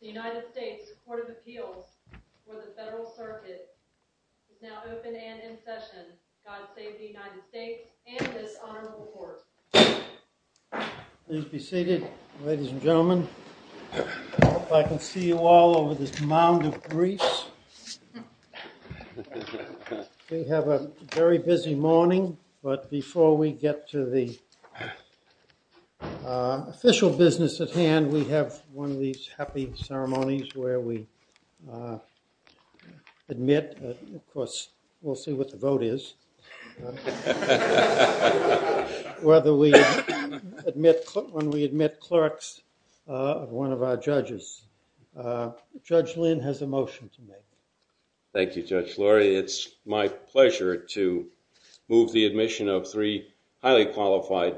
The United States Court of Appeals for the Federal Circuit is now open and in session. God save the United States and this honorable court. Please be seated, ladies and gentlemen. I hope I can see you all over this mound of grease. We have a very busy morning, but before we get to the official business at hand, we have one of these happy ceremonies where we admit, of course, we'll see what the vote is, whether we admit, when we admit clerks of one of our judges. Judge Lynn has a motion to make. Thank you, Judge Laurie. It's my pleasure to move the admission of three highly qualified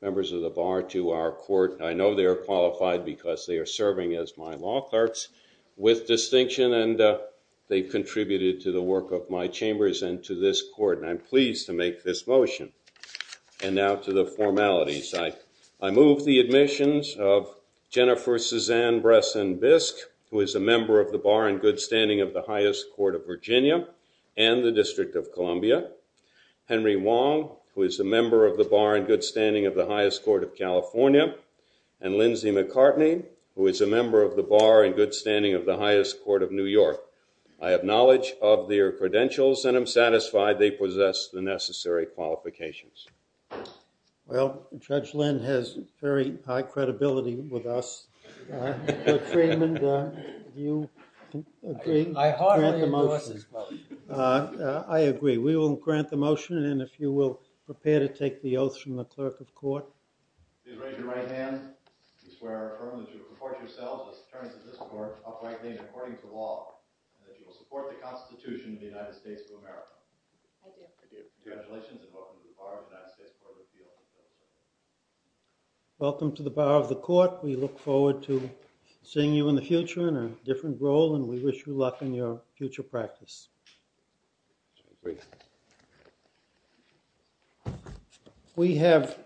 members of the bar to our court. I know they are qualified because they are serving as my law clerks with distinction, and they contributed to the work of my chambers and to this court, and I'm pleased to make this motion. And now to the formalities. I move the admissions of Jennifer Suzanne Bresson Bisk, who is a member of the Bar in Good Standing of the Highest Court of Virginia and the District of Columbia, Henry Wong, who is a member of the Bar in Good Standing of the Highest Court of California, and Lindsay McCartney, who is a member of the Bar in Good Standing of the Highest Court of New York. I have knowledge of their credentials and am satisfied they possess the necessary qualifications. Well, Judge Lynn has very high credibility with us. Judge Freeman, do you agree to grant the motion? I heartily endorse this motion. I agree. We will grant the motion, and if you will prepare to take the oath from the clerk of court. Please raise your right hand. We swear affirmatively to report to yourselves as attorneys of this court, uprightly and according to the law, that you will support the Constitution of the United States of America. I do. I do. Congratulations, and welcome to the Bar of the United States Court of Appeals. Welcome to the Bar of the Court. We look forward to seeing you in the future in a different role, and we wish you luck in your future practice. We have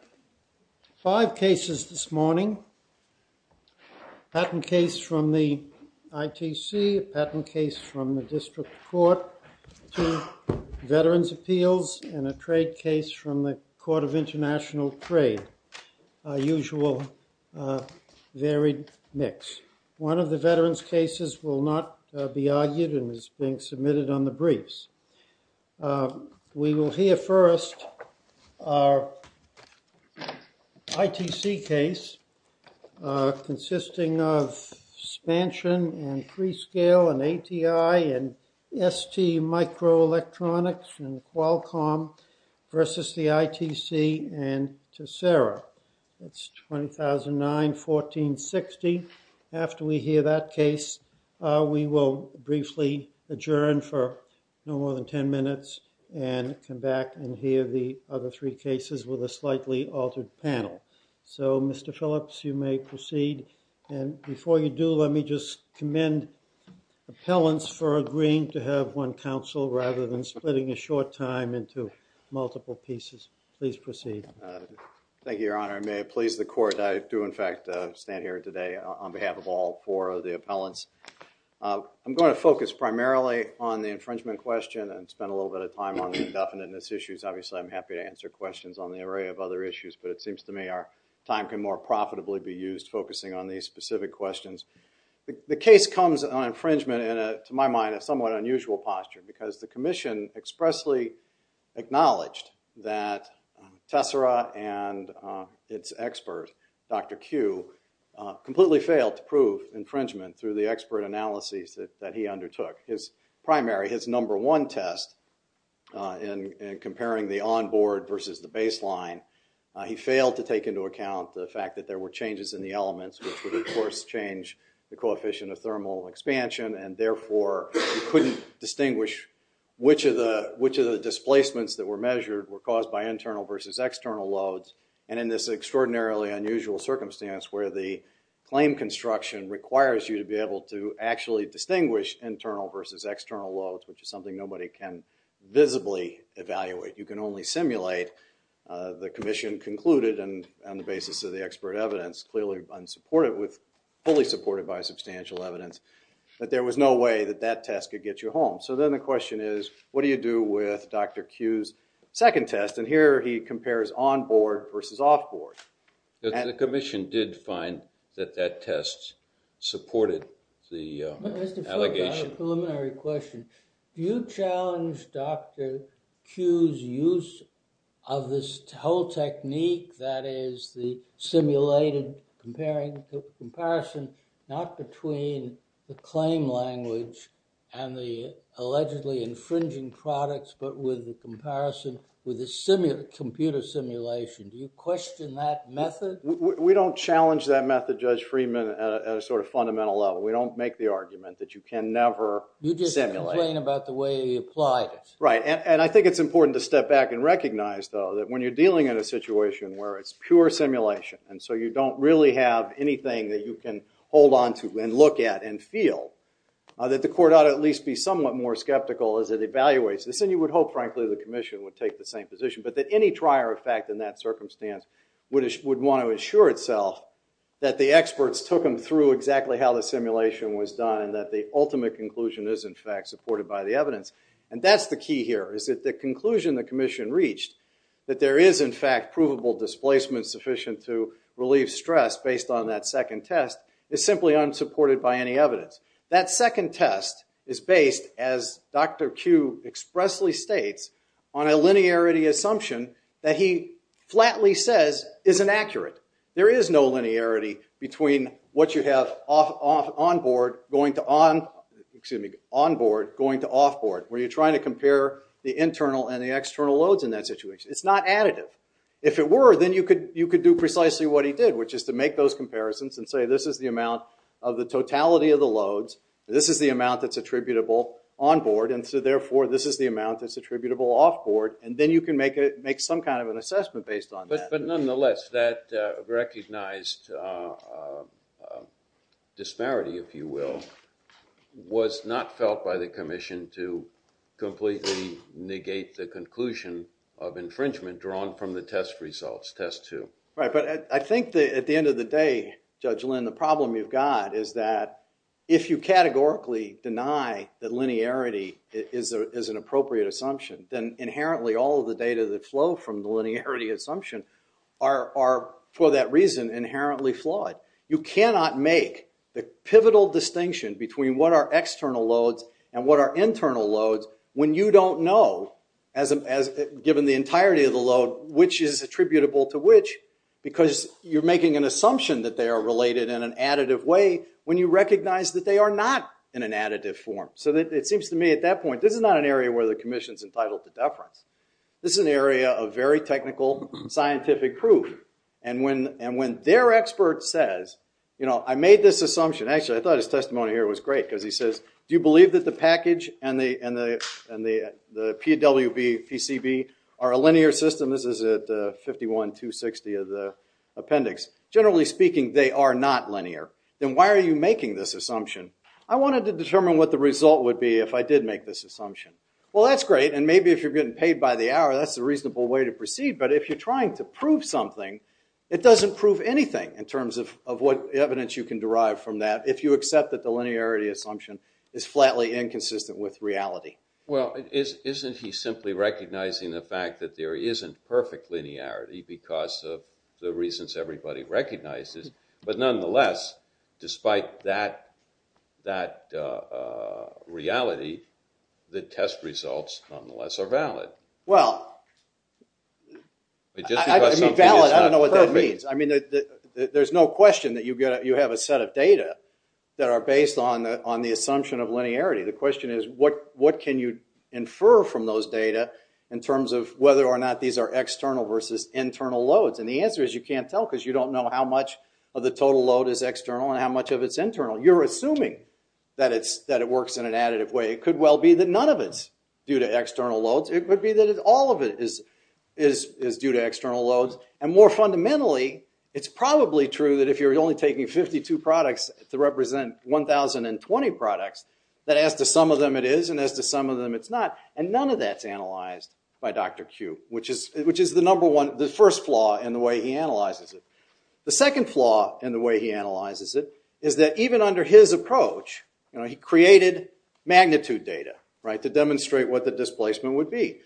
five cases this morning, a patent case from the ITC, a patent case from the trade case from the Court of International Trade, a usual varied mix. One of the veterans' cases will not be argued and is being submitted on the briefs. We will hear first our ITC case consisting of expansion and prescale and ATI and ST microelectronics and Qualcomm versus the ITC and Tessera. It's 2009-1460. After we hear that case, we will briefly adjourn for no more than ten minutes and come back and hear the other three cases with a slightly altered panel. So, Mr. Phillips, you may proceed, and before you do, let me just commend appellants for agreeing to have one counsel rather than splitting a short time into multiple pieces. Please proceed. Thank you, Your Honor, and may it please the Court, I do in fact stand here today on behalf of all four of the appellants. I'm going to focus primarily on the infringement question and spend a little bit of time on the indefiniteness issues. Obviously, I'm happy to answer questions on the array of other issues, but it seems to me our time can more profitably be used focusing on these specific questions. The case comes on infringement in a, to my mind, a somewhat unusual posture because the Commission expressly acknowledged that Tessera and its expert, Dr. Kueh, completely failed to prove infringement through the expert analyses that he undertook. His primary, his number one test in comparing the onboard versus the baseline, he failed to take into account the fact that there were changes in the elements, which would of course change the coefficient of thermal expansion, and therefore, he couldn't distinguish which of the, which of the displacements that were measured were caused by internal versus external loads, and in this extraordinarily unusual circumstance where the claim construction requires you to be able to actually distinguish internal versus external loads, which is something nobody can visibly evaluate. You can only simulate. The Commission concluded, and on the basis of the expert evidence, clearly unsupported with, fully supported by substantial evidence, that there was no way that that test could get you home. So then the question is, what do you do with Dr. Kueh's second test? And here he compares onboard versus offboard. The Commission did find that that test supported the allegation. Mr. Friedman, I have a preliminary question. Do you challenge Dr. Kueh's use of this whole technique that is the simulated comparison, not between the claim language and the allegedly infringing products, but with the comparison with the computer simulation? Do you question that method? We don't challenge that method, Judge Friedman, at a sort of fundamental level. We don't make the argument that you can never simulate. You just complain about the way he applied it. Right, and I think it's important to step back and recognize, though, that when you're dealing in a situation where it's pure simulation, and so you don't really have anything that you can hold onto and look at and feel, that the court ought to at least be somewhat more skeptical as it evaluates this. And you would hope, frankly, the Commission would take the same position, but that any trier effect in that circumstance would want to ensure itself that the experts took them through exactly how the simulation was done and that the ultimate conclusion is, in fact, supported by the evidence. And that's the key here, is that the conclusion the Commission reached, that there is, in fact, provable displacement sufficient to relieve stress based on that second test, is simply unsupported by any evidence. That second test is based, as Dr. Kueh expressly states, on a linearity assumption that he flatly says is inaccurate. There is no linearity between what you have on-board going to off-board, where you're trying to compare the internal and the external loads in that situation. It's not additive. If it were, then you could do precisely what he did, which is to make those comparisons and say this is the amount of the totality of the loads, this is the amount that's attributable on-board, and so therefore this is the amount that's attributable off-board, and then you can make some kind of an assessment based on that. But nonetheless, that recognized disparity, if you will, was not felt by the Commission to completely negate the conclusion of infringement drawn from the test results, test two. Right, but I think at the end of the day, Judge Lynn, the problem you've got is that if you categorically deny that linearity is an appropriate assumption, then inherently all of the data that flow from the linearity assumption are, for that reason, inherently flawed. You cannot make the pivotal distinction between what are external loads and what are internal loads when you don't know, given the entirety of the load, which is attributable to which, because you're making an assumption that they are related in an additive way when you recognize that they are not in an additive form. So it seems to me at that point, this is not an area where the Commission's entitled to this. This is an area of very technical, scientific proof. And when their expert says, you know, I made this assumption. Actually, I thought his testimony here was great, because he says, do you believe that the package and the PWPCB are a linear system? This is at 51.260 of the appendix. Generally speaking, they are not linear. Then why are you making this assumption? I wanted to determine what the result would be if I did make this assumption. Well, that's great. And maybe if you're getting paid by the hour, that's a reasonable way to proceed. But if you're trying to prove something, it doesn't prove anything in terms of what evidence you can derive from that if you accept that the linearity assumption is flatly inconsistent with reality. Well, isn't he simply recognizing the fact that there isn't perfect linearity because of the reasons everybody recognizes? But nonetheless, despite that reality, the test results nonetheless are valid. Well, I don't know what that means. I mean, there's no question that you have a set of data that are based on the assumption of linearity. The question is, what can you infer from those data in terms of whether or not these are external versus internal loads? And the answer is, you can't tell because you don't know how much of the total load is external and how much of it's internal. You're assuming that it works in an additive way. It could well be that none of it's due to external loads. It could be that all of it is due to external loads. And more fundamentally, it's probably true that if you're only taking 52 products to represent 1,020 products, that as to some of them it is and as to some of them it's not. And none of that's analyzed by Dr. Kube, which is the first flaw in the way he analyzes it. The second flaw in the way he analyzes it is that even under his approach, he created magnitude data to demonstrate what the displacement would be.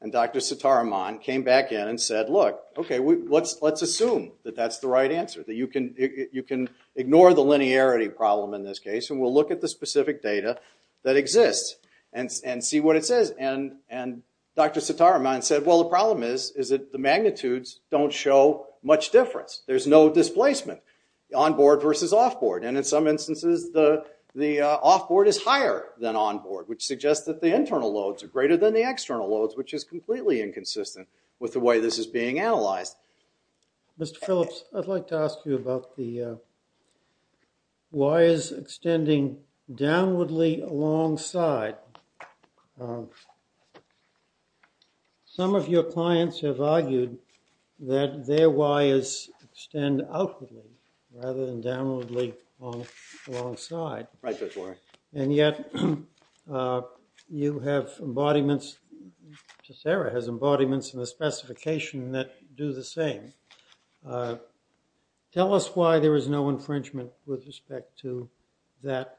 And Dr. Sitaraman came back in and said, look, OK, let's assume that that's the right answer, that you can ignore the linearity problem in this case and we'll look at the specific data that exists and see what it says. And Dr. Sitaraman said, well, the problem is that the magnitudes don't show much difference. There's no displacement on board versus off board. And in some instances, the off board is higher than on board, which suggests that the internal loads are greater than the external loads, which is completely inconsistent with the way this is being analyzed. Mr. Phillips, I'd like to ask you about the wires extending downwardly alongside. Some of your clients have argued that their wires extend outwardly rather than downwardly alongside. Right, Judge Warren. And yet you have embodiments, Sarah has embodiments in the specification that do the same. Tell us why there is no infringement with respect to that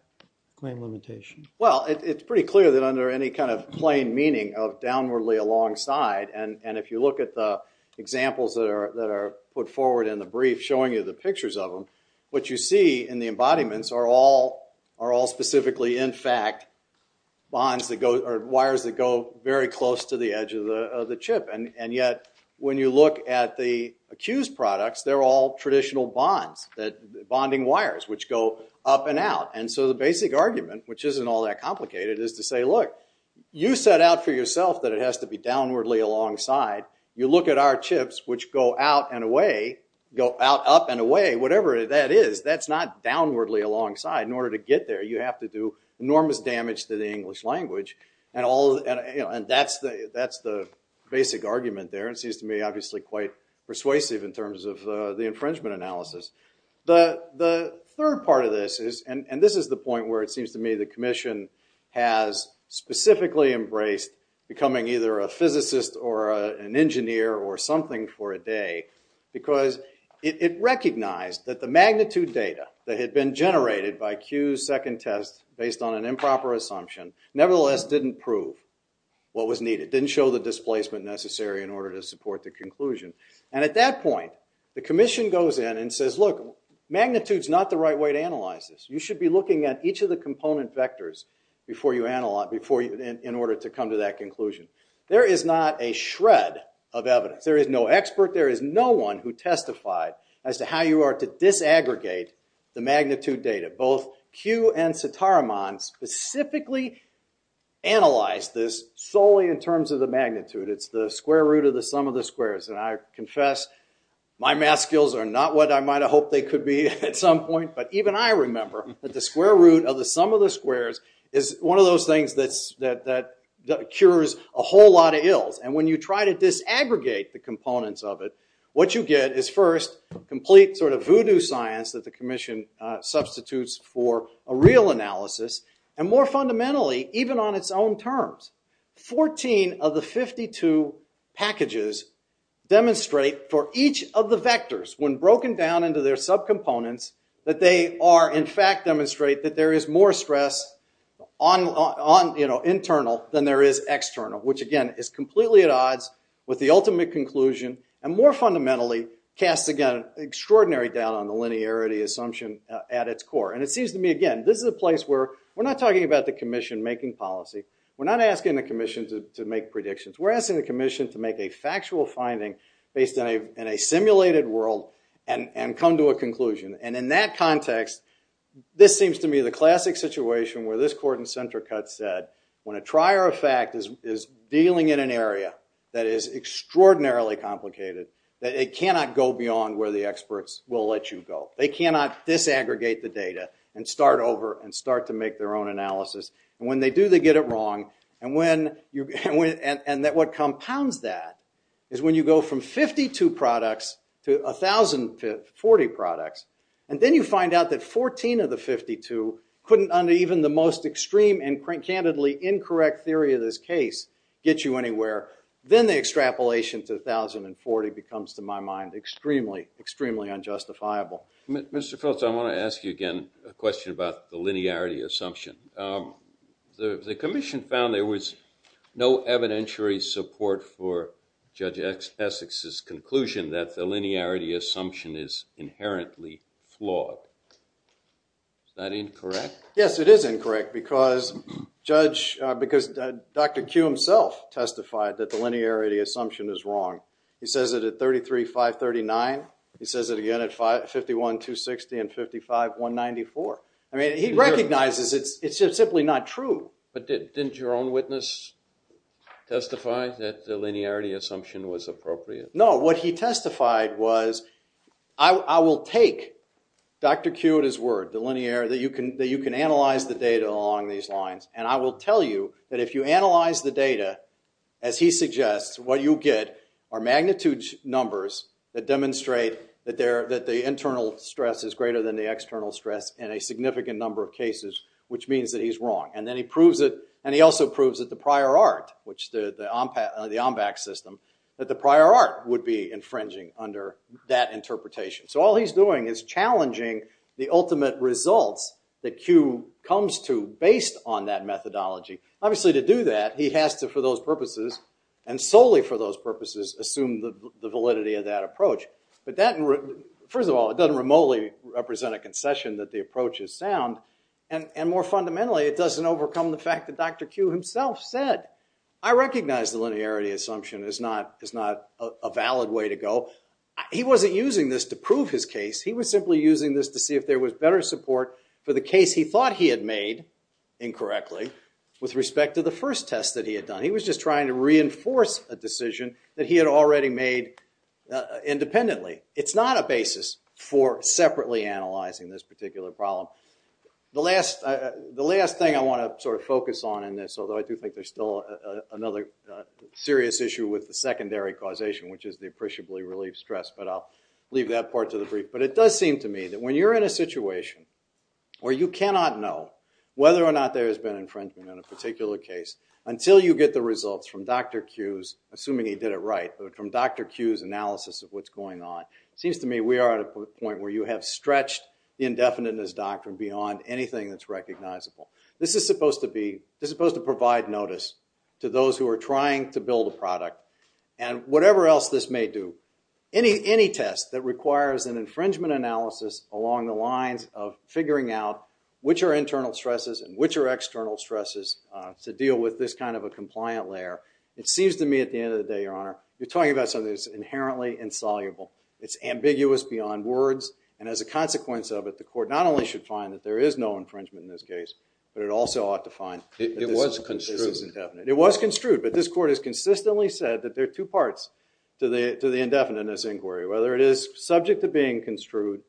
claim limitation. Well, it's pretty clear that under any kind of plain meaning of downwardly alongside, and if you look at the examples that are put forward in the brief showing you the pictures of them, what you see in the embodiments are all specifically, in fact, wires that go very close to the edge of the chip. And yet when you look at the accused products, they're all traditional bonds, bonding wires, which go up and out. And so the basic argument, which isn't all that complicated, is to say, look, you set out for yourself that it has to be downwardly alongside. You look at our chips, which go out and away, go out, up, and away, whatever that is. That's not downwardly alongside. In order to get there, you have to do enormous damage to the English language. And that's the basic argument there. It seems to me, obviously, quite persuasive in terms of the infringement analysis. The third part of this is, and this is the point where it seems to me the commission has specifically embraced becoming either a physicist or an engineer or something for a day, because it recognized that the magnitude data that had been generated by Q's second test, based on an improper assumption, nevertheless didn't prove what was needed, didn't show the displacement necessary in order to support the conclusion. And at that point, the commission goes in and says, look, magnitude's not the right way to analyze this. You should be looking at each of the component vectors in order to come to that conclusion. There is not a shred of evidence. There is no expert. There is no one who testified as to how you are to disaggregate the magnitude data. Both Q and Sitaraman specifically analyzed this solely in terms of the magnitude. It's the square root of the sum of the squares. And I confess, my math skills are not what I might have hoped they could be at some point. But even I remember that the square root of the sum of the squares is one of those things that cures a whole lot of ills. And when you try to disaggregate the components of it, what you get is first complete sort of voodoo science that the commission substitutes for a real analysis. And more fundamentally, even on its own terms, 14 of the 52 packages demonstrate for each of the vectors, when broken down into their subcomponents, that they are in fact demonstrate that there is more stress on internal than there is external, which again is completely at odds with the ultimate conclusion. And more fundamentally, casts again extraordinary doubt on the linearity assumption at its core. And it seems to me, again, this is a place where we're not talking about the commission making policy. We're not asking the commission to make predictions. We're asking the commission to make a factual finding based in a simulated world and come to a conclusion. And in that context, this seems to me the classic situation where this court in center cut said, when a trier of fact is dealing in an area that is extraordinarily complicated, that it cannot go beyond where the experts will let you go. They cannot disaggregate the data and start over and start to make their own analysis. And when they do, they get it wrong. And what compounds that is when you go from 52 products to 1,040 products, and then you find out that 14 of the 52 couldn't, under even the most extreme and candidly incorrect theory of this case, get you anywhere, then the extrapolation to 1,040 becomes, to my mind, extremely, extremely unjustifiable. Mr. Phillips, I want to ask you again a question about the linearity assumption. The commission found there was no evidentiary support for Judge Essex's conclusion that the linearity assumption is inherently flawed. Is that incorrect? Yes, it is incorrect because Judge, because Dr. Q himself testified that the linearity assumption is wrong. He says it at 33,539. He says it again at 51,260 and 55,194. I mean, he recognizes it's just simply not true. But didn't your own witness testify that the linearity assumption was appropriate? No, what he testified was, I will take Dr. Q at his word, that you can analyze the data along these lines, and I will tell you that if you analyze the data, as he suggests, what you get are magnitude numbers that demonstrate that the internal stress is greater than the significant number of cases, which means that he's wrong. And then he proves it. And he also proves that the prior art, the OMBACS system, that the prior art would be infringing under that interpretation. So all he's doing is challenging the ultimate results that Q comes to based on that methodology. Obviously, to do that, he has to, for those purposes, and solely for those purposes, assume the validity of that approach. First of all, it doesn't remotely represent a concession that the approach is sound. And more fundamentally, it doesn't overcome the fact that Dr. Q himself said, I recognize the linearity assumption is not a valid way to go. He wasn't using this to prove his case. He was simply using this to see if there was better support for the case he thought he had made, incorrectly, with respect to the first test that he had done. He was just trying to reinforce a decision that he had already made independently. It's not a basis for separately analyzing this particular problem. The last thing I want to sort of focus on in this, although I do think there's still another serious issue with the secondary causation, which is the appreciably relieved stress, but I'll leave that part to the brief. But it does seem to me that when you're in a situation where you cannot know whether or not there has been infringement on a particular case, until you get the results from Dr. Q's – assuming he did it right – but from Dr. Q's analysis of what's going on, it seems to me we are at a point where you have stretched the indefiniteness doctrine beyond anything that's recognizable. This is supposed to be – this is supposed to provide notice to those who are trying to build a product. And whatever else this may do, any test that requires an infringement analysis along the internal stresses and which are external stresses to deal with this kind of a compliant layer, it seems to me at the end of the day, Your Honor, you're talking about something that's inherently insoluble. It's ambiguous beyond words. And as a consequence of it, the court not only should find that there is no infringement in this case, but it also ought to find that this is indefinite. It was construed. It was construed. But this court has consistently said that there are two parts to the indefiniteness inquiry, whether it is subject to being construed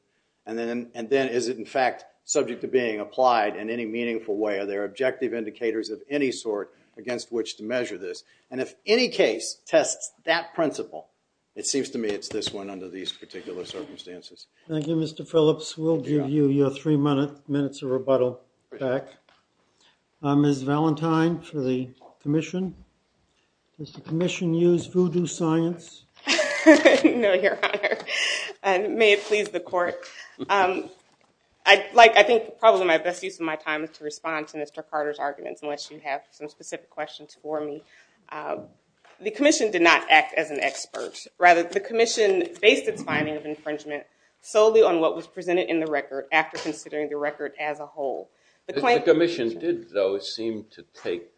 and then is it in fact subject to being applied in any meaningful way. Are there objective indicators of any sort against which to measure this? And if any case tests that principle, it seems to me it's this one under these particular circumstances. Thank you, Mr. Phillips. We'll give you your three minutes of rebuttal back. Ms. Valentine for the commission. Does the commission use voodoo science? No, Your Honor. May it please the court. I think probably my best use of my time is to respond to Mr. Carter's arguments, unless you have some specific questions for me. The commission did not act as an expert. Rather, the commission based its finding of infringement solely on what was presented in the record after considering the record as a whole. The commission did, though, seem to take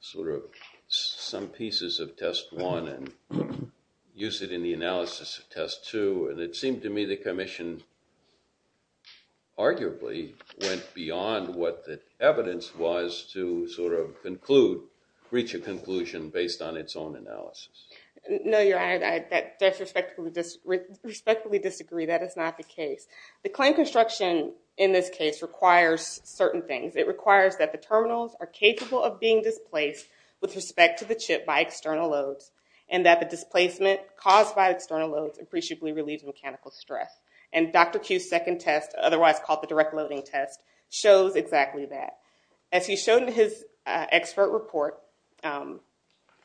sort of some pieces of test one and use it in the analysis of test two. And it seemed to me the commission arguably went beyond what the evidence was to sort of conclude, reach a conclusion based on its own analysis. No, Your Honor. I respectfully disagree. That is not the case. The claim construction in this case requires certain things. It requires that the terminals are capable of being displaced with respect to the chip by external loads and that the displacement caused by external loads appreciably relieves mechanical stress. And Dr. Q's second test, otherwise called the direct loading test, shows exactly that. As he showed in his expert report,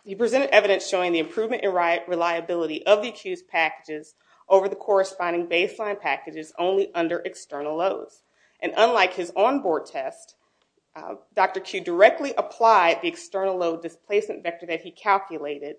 he presented evidence showing the improvement in reliability of the accused packages over the corresponding baseline packages only under external loads. And unlike his onboard test, Dr. Q directly applied the external load displacement vector that he calculated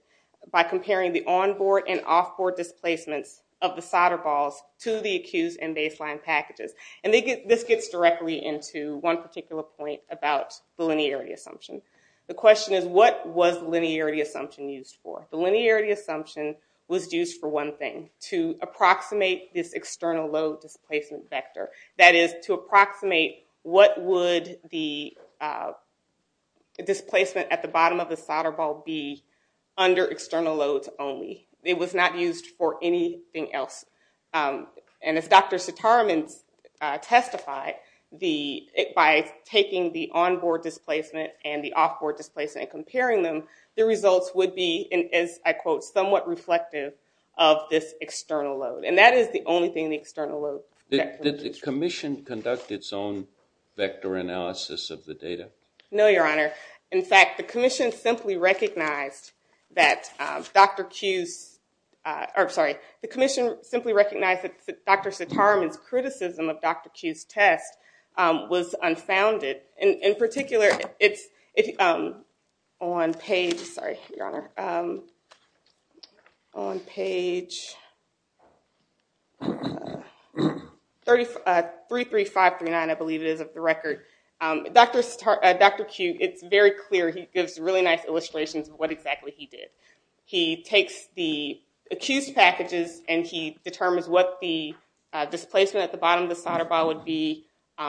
by comparing the onboard and offboard displacements of the solder balls to the accused and baseline packages. And this gets directly into one particular point about the linearity assumption. The question is, what was the linearity assumption used for? The linearity assumption was used for one thing, to approximate this external load displacement vector. That is, to approximate what would the displacement at the bottom of the solder ball be under external loads only. It was not used for anything else. And as Dr. Sitaraman testified, by taking the onboard displacement and the offboard displacement and comparing them, the results would be, and is, I quote, somewhat reflective of this external load. And that is the only thing the external load vector indicates. Did the commission conduct its own vector analysis of the data? No, Your Honor. In fact, the commission simply recognized that Dr. Q's, or sorry, the commission simply recognized that Dr. Sitaraman's criticism of Dr. Q's test was unfounded. In particular, it's on page, sorry, Your Honor, on page 33539, I believe it is, of the record. Dr. Q, it's very clear, he gives really nice illustrations of what exactly he did. He takes the accused packages and he determines what the displacement at the bottom of the offboard,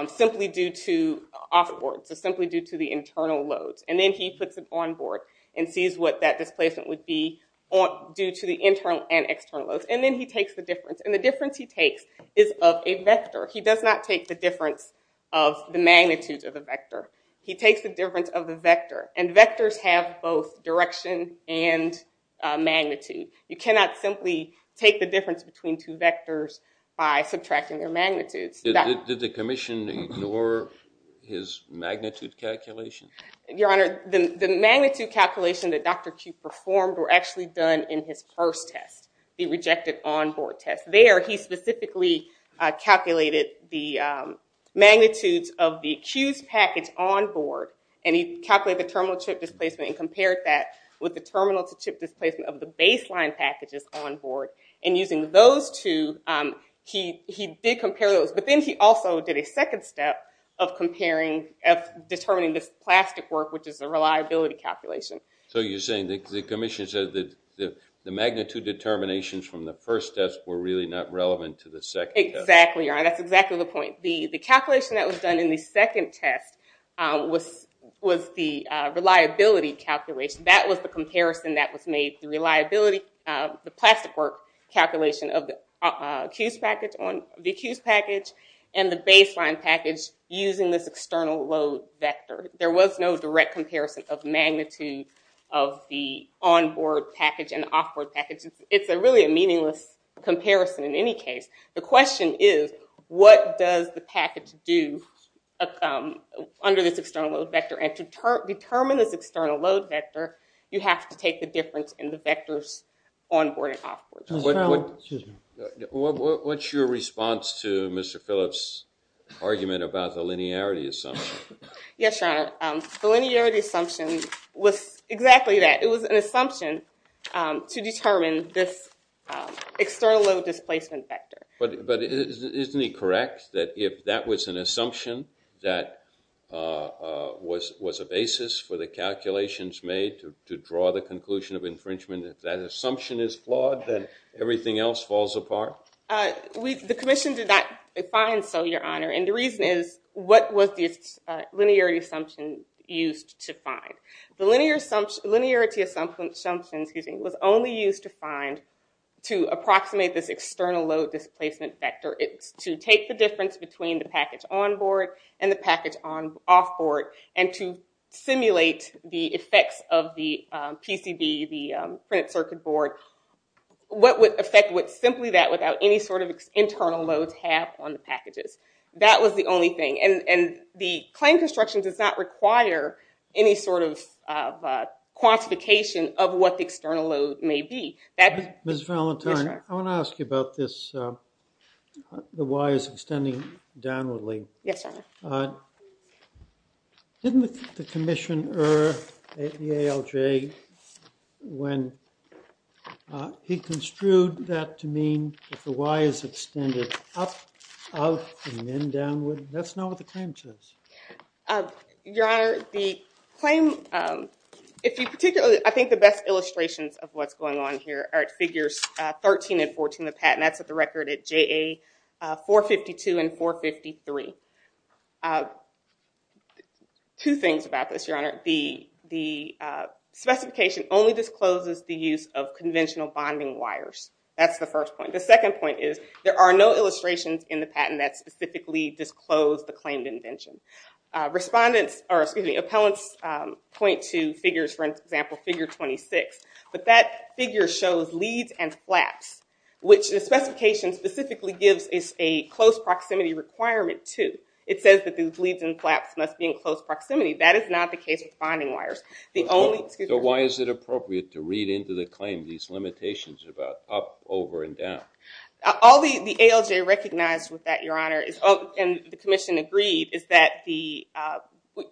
so simply due to the internal loads. And then he puts it onboard and sees what that displacement would be due to the internal and external loads. And then he takes the difference. And the difference he takes is of a vector. He does not take the difference of the magnitudes of the vector. He takes the difference of the vector. And vectors have both direction and magnitude. You cannot simply take the difference between two vectors by subtracting their magnitudes. Did the commission ignore his magnitude calculation? Your Honor, the magnitude calculation that Dr. Q performed were actually done in his first test, the rejected onboard test. There, he specifically calculated the magnitudes of the accused package onboard. And he calculated the terminal to chip displacement and compared that with the terminal to chip displacement of the baseline packages onboard. And using those two, he did compare those. But then he also did a second step of determining this plastic work, which is the reliability calculation. So you're saying the commission said that the magnitude determinations from the first test were really not relevant to the second test? Exactly, Your Honor. That's exactly the point. The calculation that was done in the second test was the reliability calculation. That was the comparison that was made, the plastic work calculation of the accused package and the baseline package using this external load vector. There was no direct comparison of magnitude of the onboard package and the offboard package. It's really a meaningless comparison in any case. The question is, what does the package do under this external load vector? And to determine this external load vector, you have to take the difference in the vectors onboard and offboard. What's your response to Mr. Phillips' argument about the linearity assumption? Yes, Your Honor. The linearity assumption was exactly that. It was an assumption to determine this external load displacement vector. But isn't he correct that if that was an assumption, that was a basis for the calculations made to draw the conclusion of infringement? If that assumption is flawed, then everything else falls apart? The commission did not find so, Your Honor. And the reason is, what was this linearity assumption used to find? The linearity assumption was only used to approximate this external load displacement vector. It's to take the difference between the package onboard and the package offboard and to simulate the effects of the PCB, the printed circuit board. What effect would simply that without any sort of internal loads have on the packages? That was the only thing. And the claim construction does not require any sort of quantification of what the external load may be. Ms. Valentine, I want to ask you about this, the wires extending downwardly. Yes, Your Honor. Didn't the commission err at the ALJ when he construed that to mean if the wire is extended up, out, and then downward? That's not what the claim says. Your Honor, the claim, if you particularly, I think the best illustrations of what's going on here are at figures 13 and 14 in the patent. That's at the record at JA 452 and 453. Two things about this, Your Honor. The specification only discloses the use of conventional bonding wires. That's the first point. The second point is there are no illustrations in the patent that specifically disclose the claimed invention. Appellants point to figures, for example, figure 26, but that figure shows leads and flaps, which the specification specifically gives a close proximity requirement to. It says that these leads and flaps must be in close proximity. That is not the case with bonding wires. So why is it appropriate to read into the claim these limitations about up, over, and down? All the ALJ recognized with that, Your Honor, and the commission agreed, is that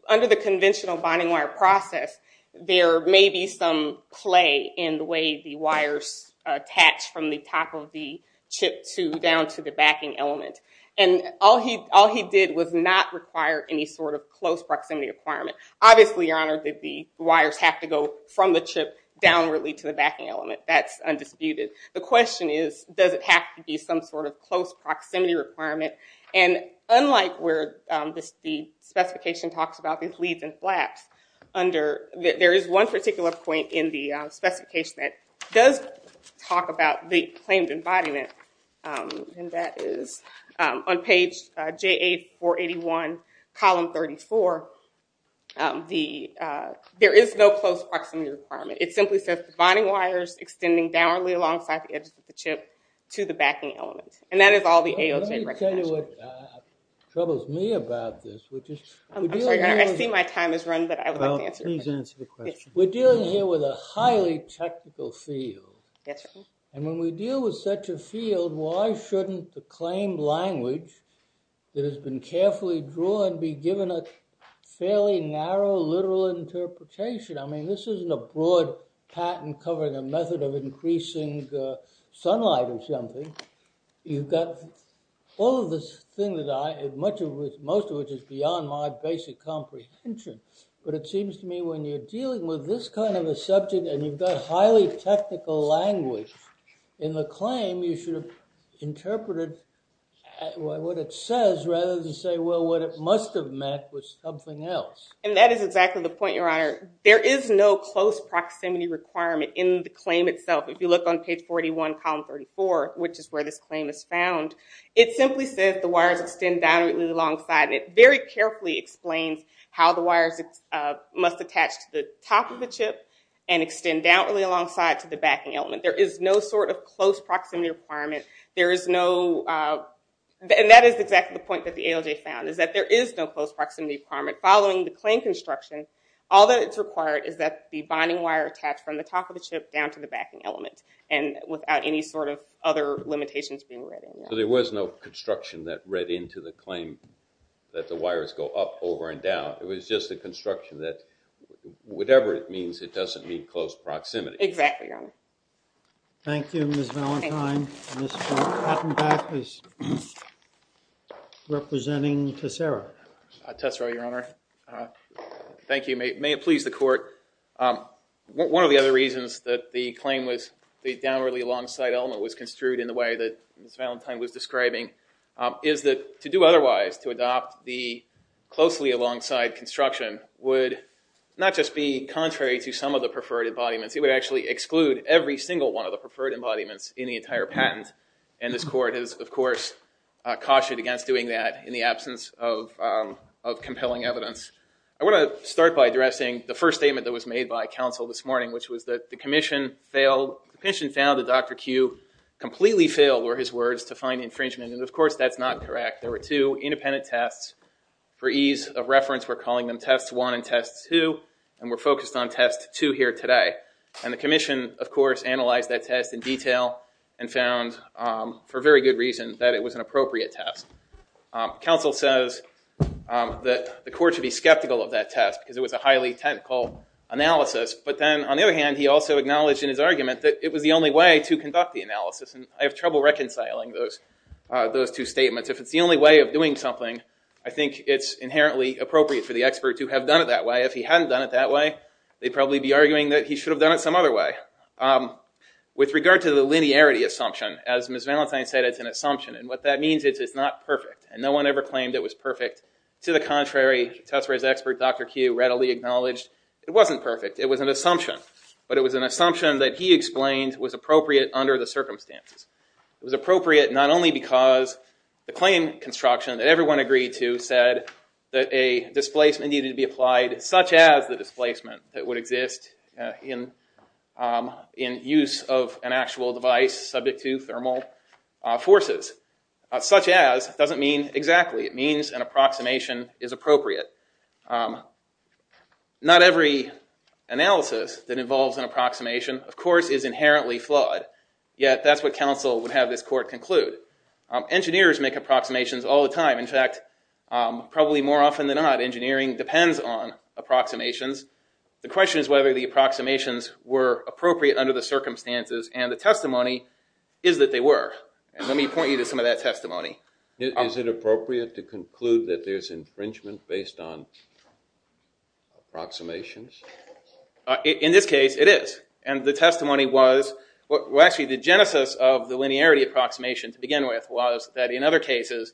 under the conventional bonding wire process, there may be some play in the way the wires attach from the top of the chip down to the backing element. And all he did was not require any sort of close proximity requirement. Obviously, Your Honor, the wires have to go from the chip downwardly to the backing element. That's undisputed. The question is, does it have to be some sort of close proximity requirement? And unlike where the specification talks about these leads and flaps, there is one particular point in the specification that does talk about the claimed embodiment, and that is on page J8481, column 34. There is no close proximity requirement. It simply says the bonding wires extending downwardly alongside the edge of the chip to the backing element. And that is all the ALJ recognizes. Let me tell you what troubles me about this. I'm sorry. I see my time has run, but I would like to answer your question. Please answer the question. We're dealing here with a highly technical field. Yes, Your Honor. And when we deal with such a field, why shouldn't the claimed language that has been carefully drawn be given a fairly narrow literal interpretation? I mean, this isn't a broad patent covering a method of increasing sunlight or something. You've got all of this thing, most of which is beyond my basic comprehension, but it seems to me when you're dealing with this kind of a subject and you've got highly technical language in the claim, you should have interpreted what it says rather than say, well, what it must have meant was something else. And that is exactly the point, Your Honor. There is no close proximity requirement in the claim itself. If you look on page 41, column 34, which is where this claim is found, it simply says the wires extend downwardly alongside, and it very carefully explains how the wires must attach to the top of the chip and extend downwardly alongside to the backing element. There is no sort of close proximity requirement. There is no – and that is exactly the point that the ALJ found, is that there is no close proximity requirement. Following the claim construction, all that is required is that the binding wire attach from the top of the chip down to the backing element and without any sort of other limitations being read in there. So there was no construction that read into the claim that the wires go up, over, and down. It was just a construction that whatever it means, it doesn't mean close proximity. Exactly, Your Honor. Thank you, Ms. Valentine. Mr. Hattenbach is representing Tessera. Tessera, Your Honor. Thank you. May it please the Court. One of the other reasons that the claim was the downwardly alongside element was construed in the way that Ms. Valentine was describing is that to do otherwise, to adopt the closely alongside construction, would not just be contrary to some of the preferred embodiments. It would actually exclude every single one of the preferred embodiments in the entire patent. And this Court has, of course, cautioned against doing that in the absence of compelling evidence. I want to start by addressing the first statement that was made by counsel this morning, which was that the Commission found that Dr. Q completely failed, were his words, to find infringement. And, of course, that's not correct. There were two independent tests. For ease of reference, we're calling them Test 1 and Test 2, and we're focused on Test 2 here today. And the Commission, of course, analyzed that test in detail and found, for very good reason, that it was an appropriate test. Counsel says that the Court should be skeptical of that test because it was a highly technical analysis. But then, on the other hand, he also acknowledged in his argument that it was the only way to conduct the analysis. And I have trouble reconciling those two statements. If it's the only way of doing something, I think it's inherently appropriate for the expert to have done it that way. If he hadn't done it that way, they'd probably be arguing that he should have done it some other way. With regard to the linearity assumption, as Ms. Valentine said, it's an assumption. And what that means is it's not perfect. And no one ever claimed it was perfect. To the contrary, Tessera's expert, Dr. Q, readily acknowledged it wasn't perfect. It was an assumption. But it was an assumption that he explained was appropriate under the circumstances. It was appropriate not only because the claim construction that everyone agreed to said that a displacement needed to be applied such as the displacement that would exist in use of an actual device subject to thermal forces. Such as doesn't mean exactly. It means an approximation is appropriate. Not every analysis that involves an approximation, of course, is inherently flawed. Yet that's what counsel would have this court conclude. Engineers make approximations all the time. In fact, probably more often than not, engineering depends on approximations. The question is whether the approximations were appropriate under the circumstances. And the testimony is that they were. And let me point you to some of that testimony. Is it appropriate to conclude that there's infringement based on approximations? In this case, it is. And the testimony was, well, actually the genesis of the linearity approximation to begin with was that in other cases,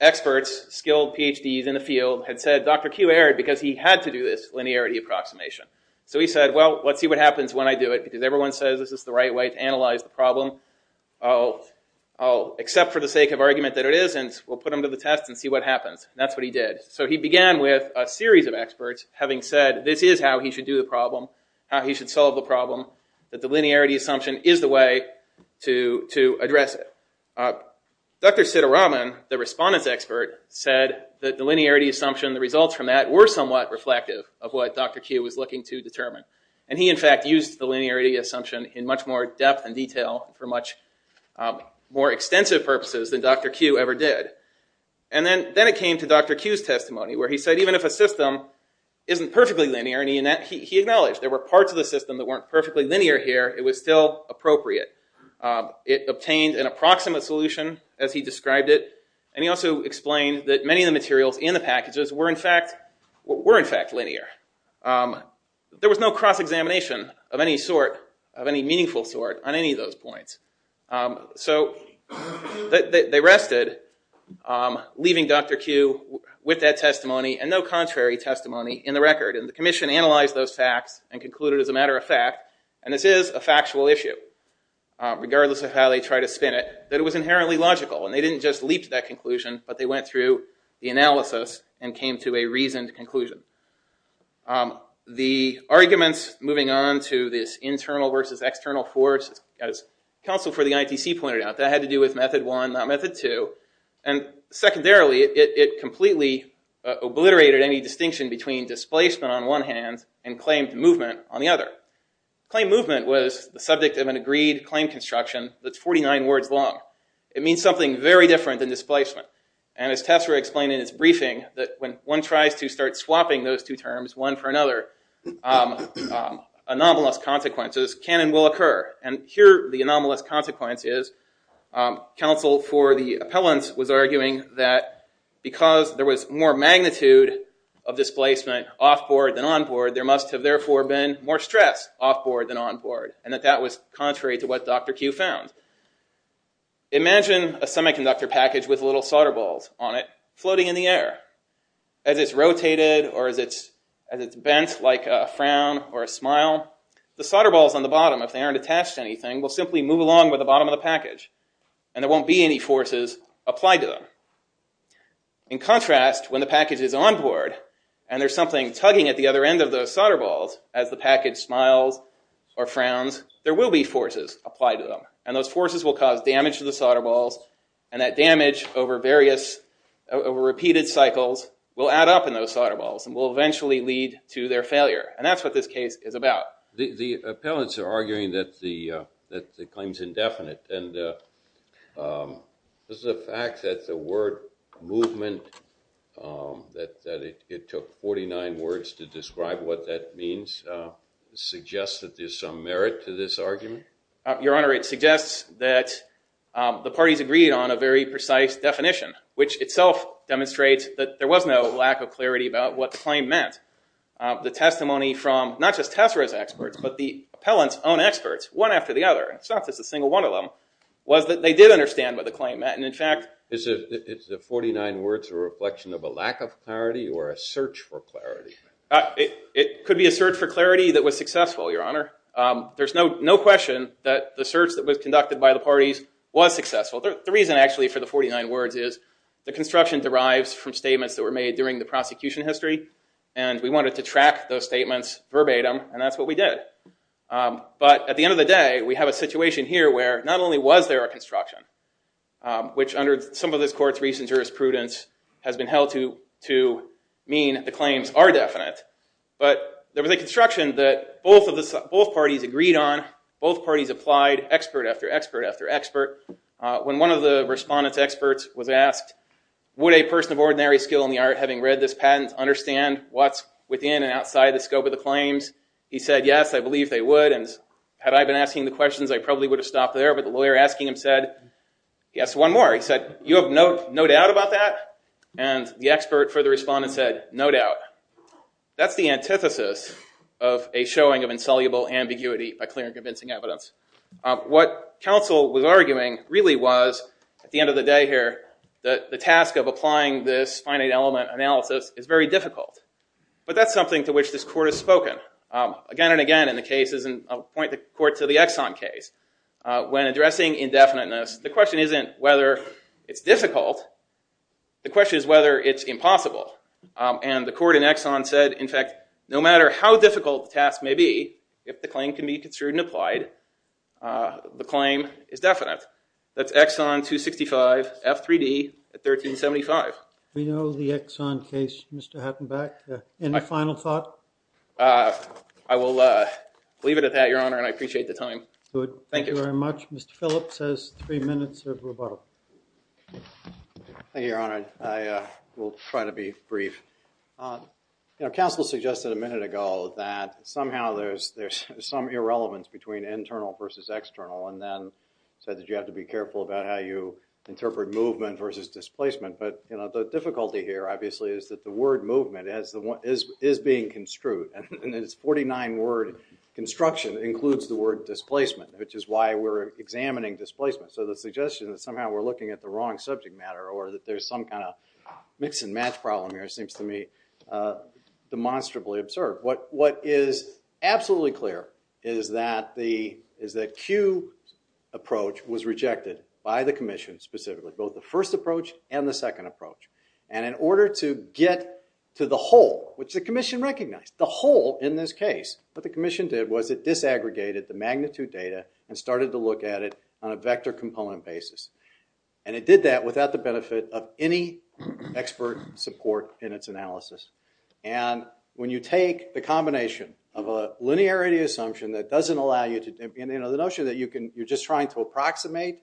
experts, skilled PhDs in the field had said Dr. Q erred because he had to do this linearity approximation. So he said, well, let's see what happens when I do it because everyone says this is the right way to analyze the problem. I'll accept for the sake of argument that it isn't. We'll put him to the test and see what happens. That's what he did. So he began with a series of experts having said this is how he should do the problem, how he should solve the problem, that the linearity assumption is the way to address it. Dr. Sitaraman, the respondent's expert, said that the linearity assumption, the results from that were somewhat reflective of what Dr. Q was looking to determine. And he, in fact, used the linearity assumption in much more depth and detail for much more extensive purposes than Dr. Q ever did. And then it came to Dr. Q's testimony where he said even if a system isn't perfectly linear, he acknowledged there were parts of the system that weren't perfectly linear here, it was still appropriate. It obtained an approximate solution, as he described it, and he also explained that many of the materials in the packages were, in fact, linear. There was no cross-examination of any sort, of any meaningful sort, on any of those points. So they rested, leaving Dr. Q with that testimony and no contrary testimony in the record. And the commission analyzed those facts and concluded, as a matter of fact, and this is a factual issue, regardless of how they try to spin it, that it was inherently logical, and they didn't just leap to that conclusion, but they went through the analysis and came to a reasoned conclusion. The arguments moving on to this internal versus external force, as counsel for the ITC pointed out, that had to do with method one, not method two. And secondarily, it completely obliterated any distinction between displacement on one hand and claimed movement on the other. Claimed movement was the subject of an agreed claim construction that's 49 words long. It means something very different than displacement. And as Tessera explained in his briefing, that when one tries to start swapping those two terms, one for another, anomalous consequences can and will occur. And here the anomalous consequence is, counsel for the appellants was arguing that because there was more magnitude of displacement off-board than on-board, there must have therefore been more stress off-board than on-board, and that that was contrary to what Dr. Q found. Imagine a semiconductor package with little solder balls on it floating in the air. As it's rotated or as it's bent like a frown or a smile, the solder balls on the bottom, if they aren't attached to anything, will simply move along with the bottom of the package, and there won't be any forces applied to them. In contrast, when the package is on-board, and there's something tugging at the other end of those solder balls, as the package smiles or frowns, there will be forces applied to them, and those forces will cause damage to the solder balls, and that damage over repeated cycles will add up in those solder balls and will eventually lead to their failure. And that's what this case is about. The appellants are arguing that the claim is indefinite, and does the fact that the word movement, that it took 49 words to describe what that means, suggest that there's some merit to this argument? Your Honor, it suggests that the parties agreed on a very precise definition, which itself demonstrates that there was no lack of clarity about what the claim meant. The testimony from not just Tessera's experts, but the appellant's own experts, one after the other, it's not just a single one of them, was that they did understand what the claim meant, and in fact... Is the 49 words a reflection of a lack of clarity or a search for clarity? It could be a search for clarity that was successful, Your Honor. There's no question that the search that was conducted by the parties was successful. The reason, actually, for the 49 words is the construction derives from statements that were made during the prosecution history, and we wanted to track those statements verbatim, and that's what we did. But at the end of the day, we have a situation here where not only was there a construction, which under some of this court's recent jurisprudence has been held to mean the claims are definite, but there was a construction that both parties agreed on. Both parties applied expert after expert after expert. When one of the respondent's experts was asked, would a person of ordinary skill in the art having read this patent understand what's within and outside the scope of the claims, he said, yes, I believe they would, and had I been asking the questions, I probably would have stopped there, but the lawyer asking him said, yes, one more. He said, you have no doubt about that? And the expert for the respondent said, no doubt. That's the antithesis of a showing of insoluble ambiguity by clear and convincing evidence. What counsel was arguing really was, at the end of the day here, the task of applying this finite element analysis is very difficult, but that's something to which this court has spoken again and again in the cases, and I'll point the court to the Exxon case. When addressing indefiniteness, the question isn't whether it's difficult. The question is whether it's impossible, and the court in Exxon said, in fact, no matter how difficult the task may be, if the claim can be construed and applied, the claim is definite. That's Exxon 265 F3D at 1375. We know the Exxon case, Mr. Hattenbeck. Any final thought? I will leave it at that, Your Honor, and I appreciate the time. Good. Thank you very much. Mr. Phillips has three minutes of rebuttal. Thank you, Your Honor. I will try to be brief. Counsel suggested a minute ago that somehow there's some irrelevance between internal versus external, and then said that you have to be careful about how you interpret movement versus displacement, but the difficulty here, obviously, is that the word movement is being construed, and this 49-word construction includes the word displacement, which is why we're examining displacement. So the suggestion that somehow we're looking at the wrong subject matter or that there's some kind of mix-and-match problem here seems to me demonstrably absurd. What is absolutely clear is that the Q approach was rejected by the commission specifically, both the first approach and the second approach, and in order to get to the whole, which the commission recognized, the whole in this case, what the commission did was it disaggregated the magnitude data and started to look at it on a vector component basis, and it did that without the benefit of any expert support in its analysis, and when you take the combination of a linearity assumption that doesn't allow you to, you know, the notion that you're just trying to approximate,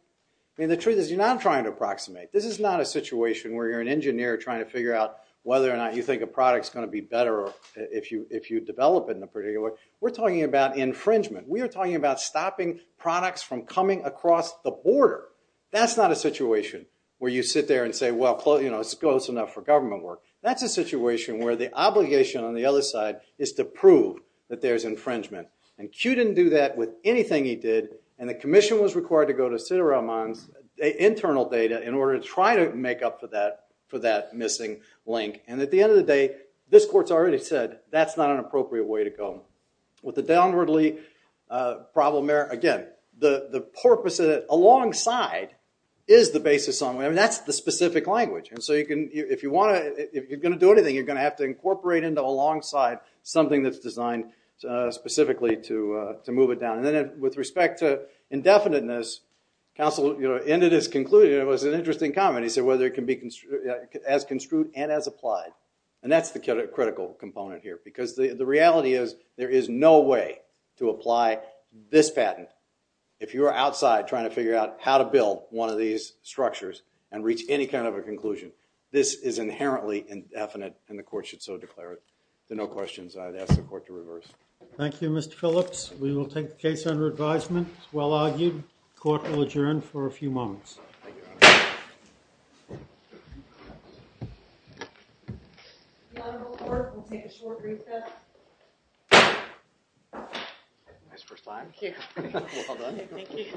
I mean, the truth is you're not trying to approximate. This is not a situation where you're an engineer trying to figure out whether or not you think a product's going to be better if you develop it in a particular way. We're talking about infringement. We are talking about stopping products from coming across the border. That's not a situation where you sit there and say, well, you know, it's close enough for government work. That's a situation where the obligation on the other side is to prove that there's infringement, and Q didn't do that with anything he did, and the commission was required to go to Siddharaman's internal data in order to try to make up for that missing link, and at the end of the day, this court's already said that's not an appropriate way to go. With the downwardly problem there, again, the purpose of it alongside is the basis. I mean, that's the specific language, and so you can, if you want to, if you're going to do anything, you're going to have to incorporate into alongside something that's designed specifically to move it down, and then with respect to indefiniteness, counsel, you know, ended his conclusion. It was an interesting comment. He said whether it can be as construed and as applied, and that's the critical component here because the reality is there is no way to apply this patent. If you are outside trying to figure out how to build one of these structures and reach any kind of a conclusion, this is inherently indefinite, and the court should so declare it. If there are no questions, I'd ask the court to reverse. Thank you, Mr. Phillips. We will take the case under advisement. It's well argued. Court will adjourn for a few moments. Thank you, Your Honor. The honorable court will take a short recess. Nice first time. Thank you. Well done. Thank you.